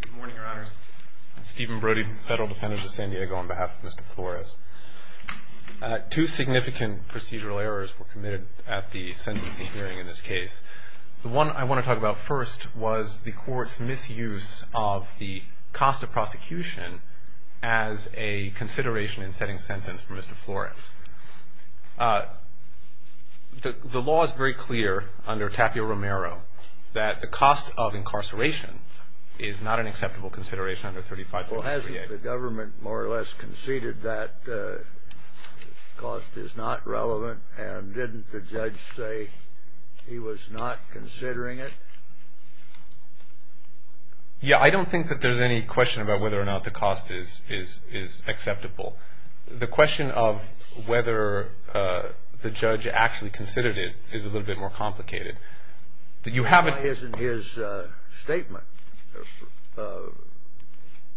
Good morning, Your Honors. Stephen Brody, Federal Defendant of San Diego, on behalf of Mr. Flores. Two significant procedural errors were committed at the sentencing hearing in this case. The one I want to talk about first was the Court's misuse of the cost of prosecution as a consideration in setting sentence for Mr. Flores. The law is very clear under Tapio Romero that the cost of incarceration is not an acceptable consideration under 35.38. Well, hasn't the government more or less conceded that the cost is not relevant, and didn't the judge say he was not considering it? Yeah, I don't think that there's any question about whether or not the cost is acceptable. The question of whether the judge actually considered it is a little bit more complicated. Why isn't his statement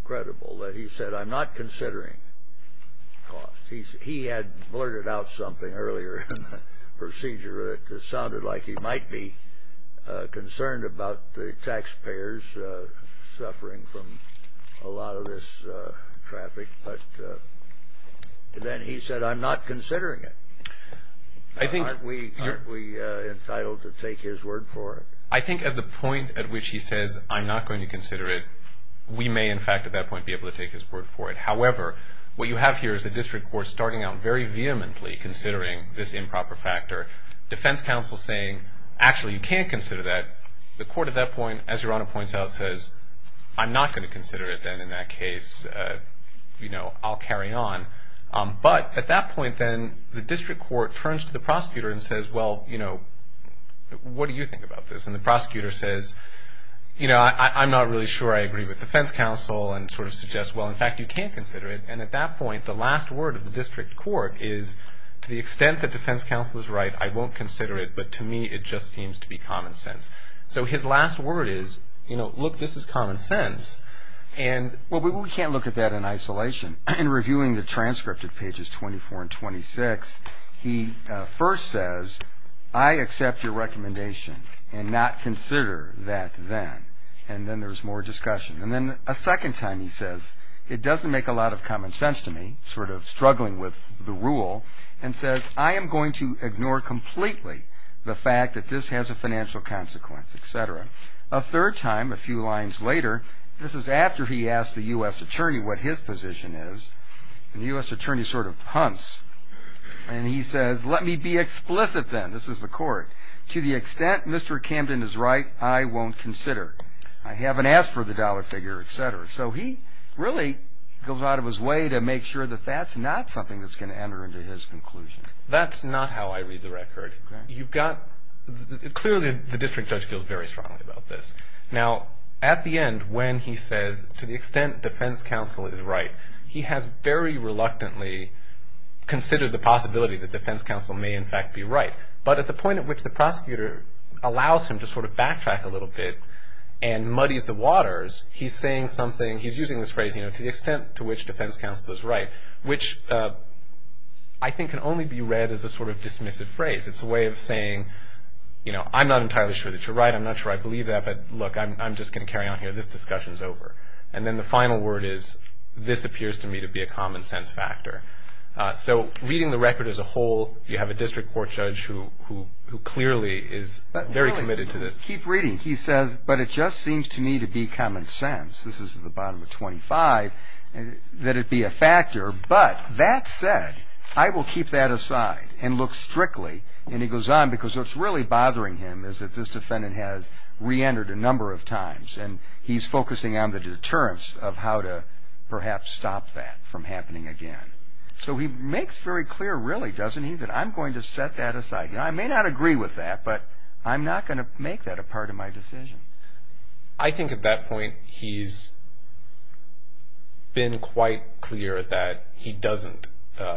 credible that he said, I'm not considering cost? He had blurted out something earlier in the procedure that sounded like he might be concerned about the taxpayers suffering from a lot of this traffic. But then he said, I'm not considering it. Aren't we entitled to take his word for it? I think at the point at which he says, I'm not going to consider it, we may in fact at that point be able to take his word for it. However, what you have here is the district court starting out very vehemently considering this improper factor, defense counsel saying, actually, you can't consider that. The court at that point, as Your Honor points out, says, I'm not going to consider it then in that case. You know, I'll carry on. But at that point then, the district court turns to the prosecutor and says, well, you know, what do you think about this? And the prosecutor says, you know, I'm not really sure I agree with defense counsel and sort of suggests, well, in fact, you can consider it. And at that point, the last word of the district court is, to the extent that defense counsel is right, I won't consider it. But to me, it just seems to be common sense. So his last word is, you know, look, this is common sense. And we can't look at that in isolation. In reviewing the transcript at pages 24 and 26, he first says, I accept your recommendation and not consider that then. And then there's more discussion. And then a second time he says, it doesn't make a lot of common sense to me, sort of struggling with the rule, and says, I am going to ignore completely the fact that this has a financial consequence, et cetera. A third time, a few lines later, this is after he asks the U.S. attorney what his position is. And the U.S. attorney sort of hunts. And he says, let me be explicit then. This is the court. To the extent Mr. Camden is right, I won't consider it. I haven't asked for the dollar figure, et cetera. So he really goes out of his way to make sure that that's not something that's going to enter into his conclusion. That's not how I read the record. Clearly, the district judge feels very strongly about this. Now, at the end, when he says, to the extent defense counsel is right, he has very reluctantly considered the possibility that defense counsel may in fact be right. But at the point at which the prosecutor allows him to sort of backtrack a little bit and muddies the waters, he's saying something, he's using this phrase, to the extent to which defense counsel is right, which I think can only be read as a sort of dismissive phrase. It's a way of saying, you know, I'm not entirely sure that you're right. I'm not sure I believe that. But, look, I'm just going to carry on here. This discussion is over. And then the final word is, this appears to me to be a common sense factor. So reading the record as a whole, you have a district court judge who clearly is very committed to this. Keep reading. He says, but it just seems to me to be common sense, this is at the bottom of 25, that it be a factor. But that said, I will keep that aside and look strictly, and he goes on, because what's really bothering him is that this defendant has reentered a number of times, and he's focusing on the deterrence of how to perhaps stop that from happening again. So he makes very clear, really, doesn't he, that I'm going to set that aside. I may not agree with that, but I'm not going to make that a part of my decision. I think at that point he's been quite clear that he doesn't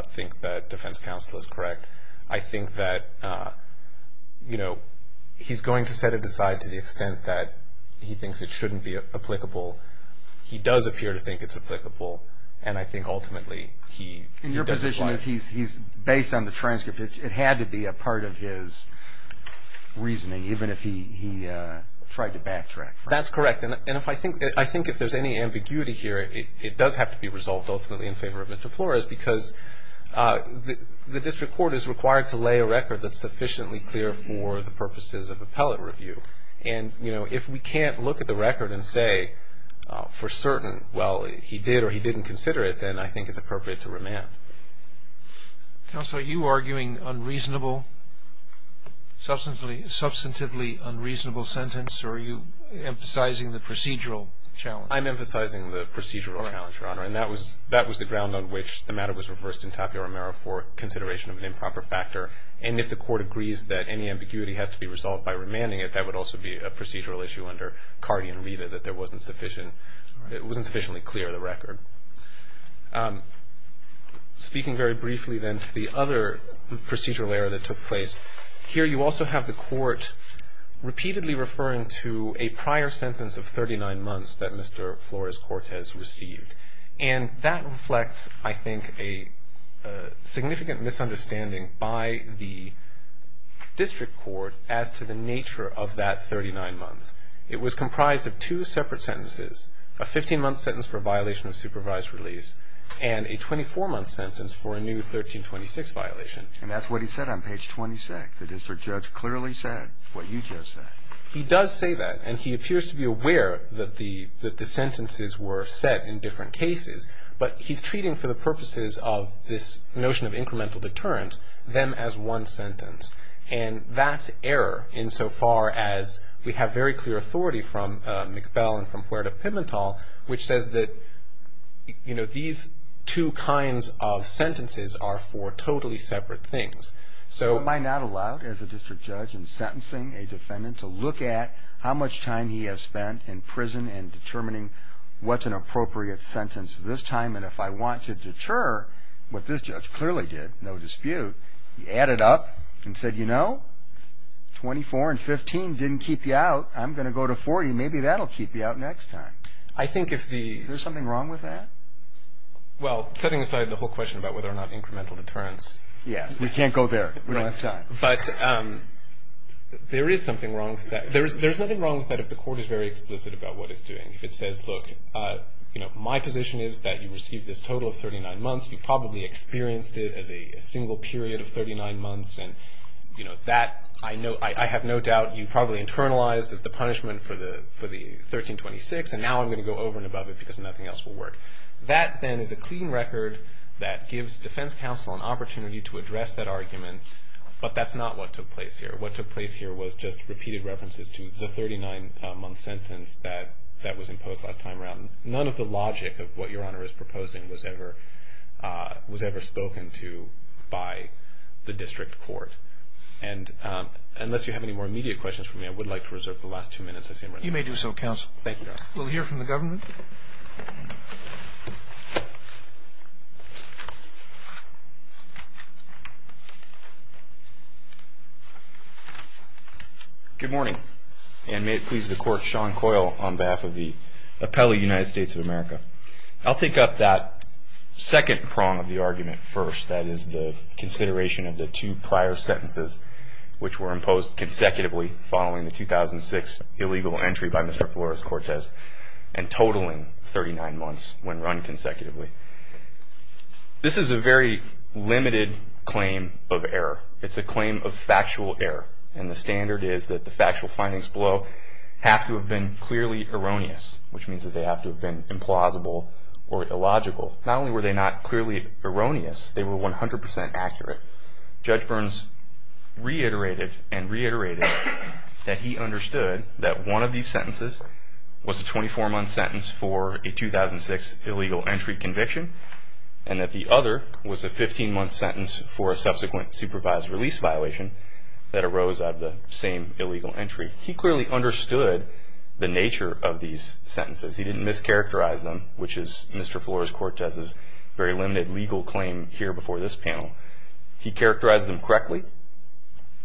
think that defense counsel is correct. I think that, you know, he's going to set it aside to the extent that he thinks it shouldn't be applicable. He does appear to think it's applicable, and I think ultimately he does apply it. And your position is he's based on the transcript. It had to be a part of his reasoning, even if he tried to backtrack. That's correct. And I think if there's any ambiguity here, it does have to be resolved ultimately in favor of Mr. Flores, because the district court is required to lay a record that's sufficiently clear for the purposes of appellate review. And, you know, if we can't look at the record and say for certain, well, he did or he didn't consider it, then I think it's appropriate to remand. Counsel, are you arguing unreasonable, substantively unreasonable sentence, or are you emphasizing the procedural challenge? I'm emphasizing the procedural challenge, Your Honor, and that was the ground on which the matter was reversed in Tapio Romero for consideration of an improper factor. And if the court agrees that any ambiguity has to be resolved by remanding it, I think that would also be a procedural issue under Carty and Rita, that there wasn't sufficiently clear of the record. Speaking very briefly, then, to the other procedural error that took place, here you also have the court repeatedly referring to a prior sentence of 39 months that Mr. Flores-Cortez received. And that reflects, I think, a significant misunderstanding by the district court as to the nature of that 39 months. It was comprised of two separate sentences, a 15-month sentence for a violation of supervised release and a 24-month sentence for a new 1326 violation. And that's what he said on page 26. The district judge clearly said what you just said. He does say that, and he appears to be aware that the sentences were set in different cases, but he's treating for the purposes of this notion of incremental deterrence them as one sentence. And that's error insofar as we have very clear authority from McBell and from Puerta Pimentel, which says that, you know, these two kinds of sentences are for totally separate things. Am I not allowed, as a district judge in sentencing a defendant, to look at how much time he has spent in prison in determining what's an appropriate sentence this time? And if I want to deter what this judge clearly did, no dispute, he added up and said, you know, 24 and 15 didn't keep you out. I'm going to go to 40. Maybe that will keep you out next time. Is there something wrong with that? Well, setting aside the whole question about whether or not incremental deterrence. Yes. We can't go there. We don't have time. But there is something wrong with that. There's nothing wrong with that if the court is very explicit about what it's doing. If it says, look, you know, my position is that you received this total of 39 months. You probably experienced it as a single period of 39 months, and, you know, that, I have no doubt, you probably internalized as the punishment for the 1326, and now I'm going to go over and above it because nothing else will work. That, then, is a clean record that gives defense counsel an opportunity to address that argument, but that's not what took place here. What took place here was just repeated references to the 39-month sentence that was imposed last time around. None of the logic of what Your Honor is proposing was ever spoken to by the district court. And unless you have any more immediate questions for me, I would like to reserve the last two minutes. Thank you, Your Honor. We'll hear from the government. Good morning, and may it please the Court, Sean Coyle on behalf of the Appellee United States of America. I'll take up that second prong of the argument first, that is the consideration of the two prior sentences which were imposed consecutively following the 2006 illegal entry by Mr. Flores-Cortez and totaling 39 months when run consecutively. This is a very limited claim of error. It's a claim of factual error, and the standard is that the factual findings below have to have been clearly erroneous, which means that they have to have been implausible or illogical. Not only were they not clearly erroneous, they were 100 percent accurate. Judge Burns reiterated and reiterated that he understood that one of these sentences was a 24-month sentence for a 2006 illegal entry conviction, and that the other was a 15-month sentence for a subsequent supervised release violation that arose out of the same illegal entry. He clearly understood the nature of these sentences. He didn't mischaracterize them, which is Mr. Flores-Cortez's very limited legal claim here before this panel. He characterized them correctly.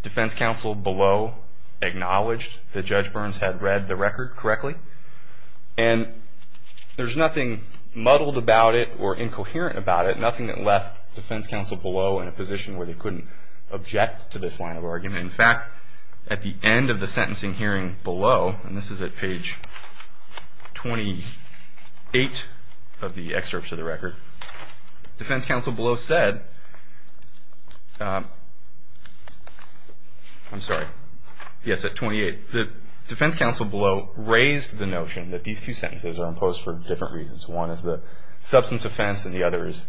Defense counsel below acknowledged that Judge Burns had read the record correctly, and there's nothing muddled about it or incoherent about it, nothing that left defense counsel below in a position where they couldn't object to this line of argument. In fact, at the end of the sentencing hearing below, and this is at page 28 of the excerpts of the record, defense counsel below said, I'm sorry, yes, at 28, defense counsel below raised the notion that these two sentences are imposed for different reasons. One is the substance offense, and the other is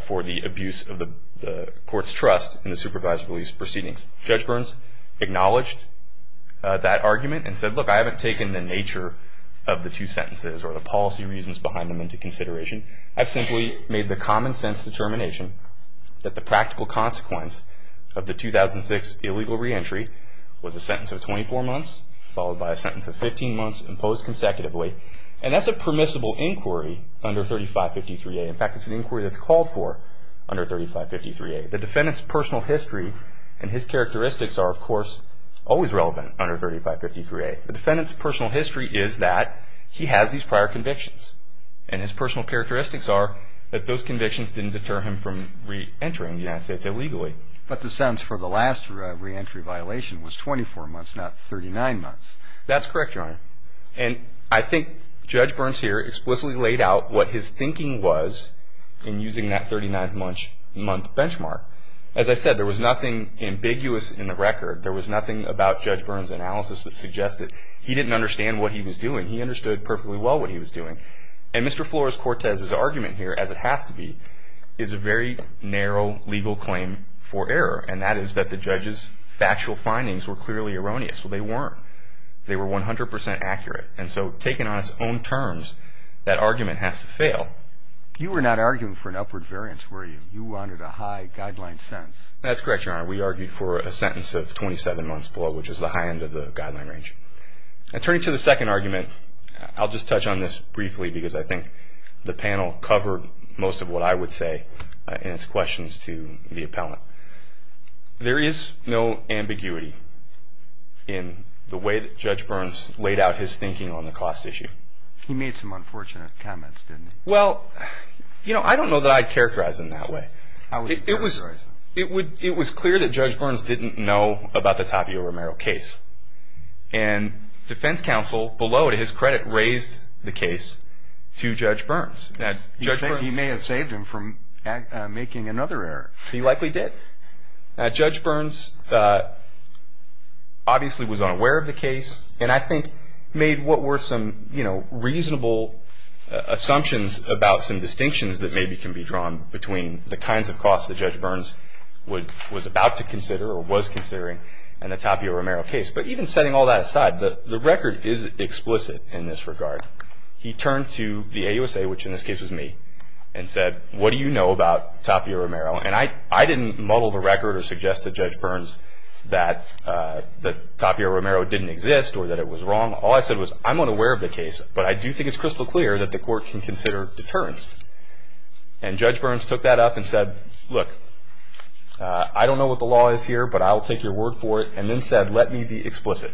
for the abuse of the court's trust in the supervised release proceedings. Judge Burns acknowledged that argument and said, look, I haven't taken the nature of the two sentences or the policy reasons behind them into consideration. I've simply made the common sense determination that the practical consequence of the 2006 illegal reentry was a sentence of 24 months followed by a sentence of 15 months imposed consecutively. And that's a permissible inquiry under 3553A. In fact, it's an inquiry that's called for under 3553A. The defendant's personal history and his characteristics are, of course, always relevant under 3553A. The defendant's personal history is that he has these prior convictions, and his personal characteristics are that those convictions didn't deter him from reentering the United States illegally. But the sentence for the last reentry violation was 24 months, not 39 months. That's correct, Your Honor. And I think Judge Burns here explicitly laid out what his thinking was in using that 39-month benchmark. As I said, there was nothing ambiguous in the record. There was nothing about Judge Burns' analysis that suggested he didn't understand what he was doing. He understood perfectly well what he was doing. And Mr. Flores-Cortez's argument here, as it has to be, is a very narrow legal claim for error, and that is that the judge's factual findings were clearly erroneous. Well, they weren't. They were 100% accurate. And so taken on its own terms, that argument has to fail. You were not arguing for an upward variance, were you? You wanted a high guideline sentence. That's correct, Your Honor. We argued for a sentence of 27 months below, which is the high end of the guideline range. Turning to the second argument, I'll just touch on this briefly because I think the panel covered most of what I would say in its questions to the appellant. There is no ambiguity in the way that Judge Burns laid out his thinking on the cost issue. He made some unfortunate comments, didn't he? Well, you know, I don't know that I'd characterize him that way. It was clear that Judge Burns didn't know about the Tapio Romero case, and defense counsel below to his credit raised the case to Judge Burns. He may have saved him from making another error. He likely did. Judge Burns obviously was unaware of the case and I think made what were some reasonable assumptions about some distinctions that maybe can be drawn between the kinds of costs that Judge Burns was about to consider or was considering in the Tapio Romero case. But even setting all that aside, the record is explicit in this regard. He turned to the AUSA, which in this case was me, and said, what do you know about Tapio Romero? And I didn't muddle the record or suggest to Judge Burns that Tapio Romero didn't exist or that it was wrong. All I said was I'm unaware of the case, but I do think it's crystal clear that the court can consider deterrence. And Judge Burns took that up and said, look, I don't know what the law is here, but I'll take your word for it, and then said, let me be explicit.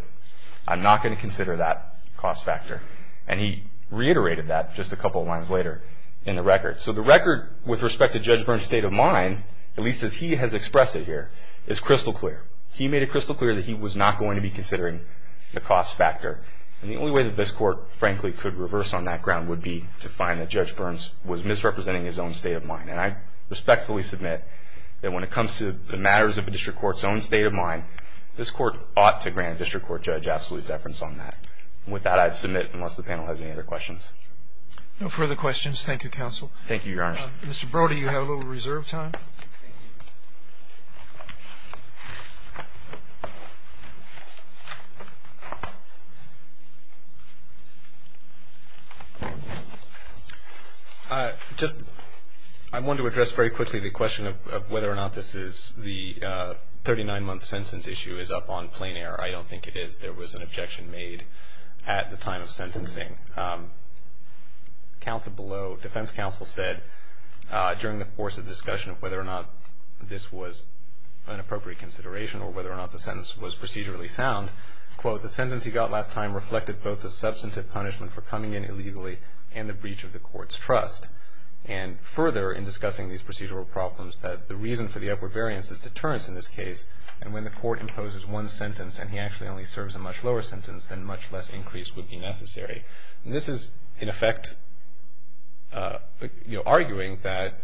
I'm not going to consider that cost factor. And he reiterated that just a couple of lines later in the record. So the record with respect to Judge Burns' state of mind, at least as he has expressed it here, is crystal clear. He made it crystal clear that he was not going to be considering the cost factor. And the only way that this Court, frankly, could reverse on that ground would be to find that Judge Burns was misrepresenting his own state of mind. And I respectfully submit that when it comes to the matters of a district court's own state of mind, this Court ought to grant a district court judge absolute deference on that. And with that, I'd submit, unless the panel has any other questions. No further questions. Thank you, Counsel. Thank you, Your Honor. Mr. Brody, you have a little reserve time. Thank you. I want to address very quickly the question of whether or not this is the 39-month sentence issue is up on plain air. I don't think it is. There was an objection made at the time of sentencing. Defense counsel said during the course of discussion of whether or not this was an appropriate consideration or whether or not the sentence was procedurally sound, quote, the sentence he got last time reflected both the substantive punishment for coming in illegally and the breach of the Court's trust. And further, in discussing these procedural problems, that the reason for the upward variance is deterrence in this case, and when the Court imposes one sentence and he actually only serves a much lower sentence, then much less increase would be necessary. And this is, in effect, you know, arguing that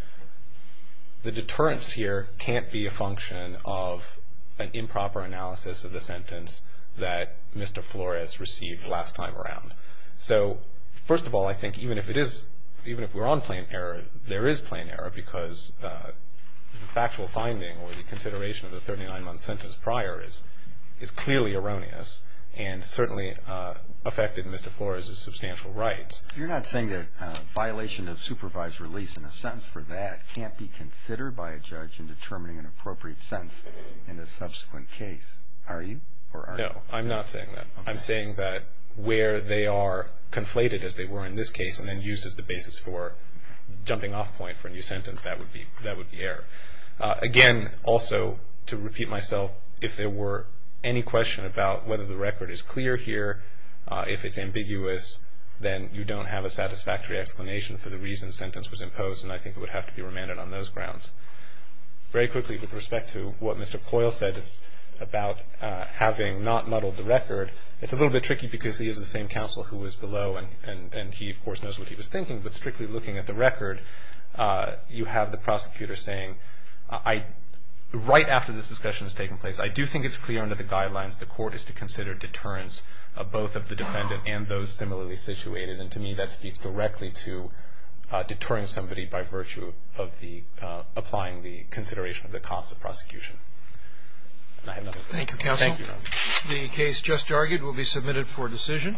the deterrence here can't be a function of an improper analysis of the sentence that Mr. Flores received last time around. So, first of all, I think even if it is, even if we're on plain air, there is plain air, because the factual finding or the consideration of the 39-month sentence prior is clearly erroneous and certainly affected Mr. Flores' substantial rights. You're not saying that a violation of supervised release in a sentence for that can't be considered by a judge in determining an appropriate sentence in a subsequent case, are you? No, I'm not saying that. I'm saying that where they are conflated as they were in this case and then used as the basis for jumping off point for a new sentence, that would be error. Again, also to repeat myself, if there were any question about whether the record is clear here, if it's ambiguous, then you don't have a satisfactory explanation for the reason the sentence was imposed and I think it would have to be remanded on those grounds. Very quickly, with respect to what Mr. Coyle said about having not muddled the record, it's a little bit tricky because he is the same counsel who was below and he, of course, knows what he was thinking, but strictly looking at the record, you have the prosecutor saying, right after this discussion has taken place, I do think it's clear under the guidelines the court is to consider deterrence of both of the defendant and those similarly situated and to me that speaks directly to deterring somebody by virtue of applying the consideration of the cost of prosecution. Thank you, counsel. The case just argued will be submitted for decision.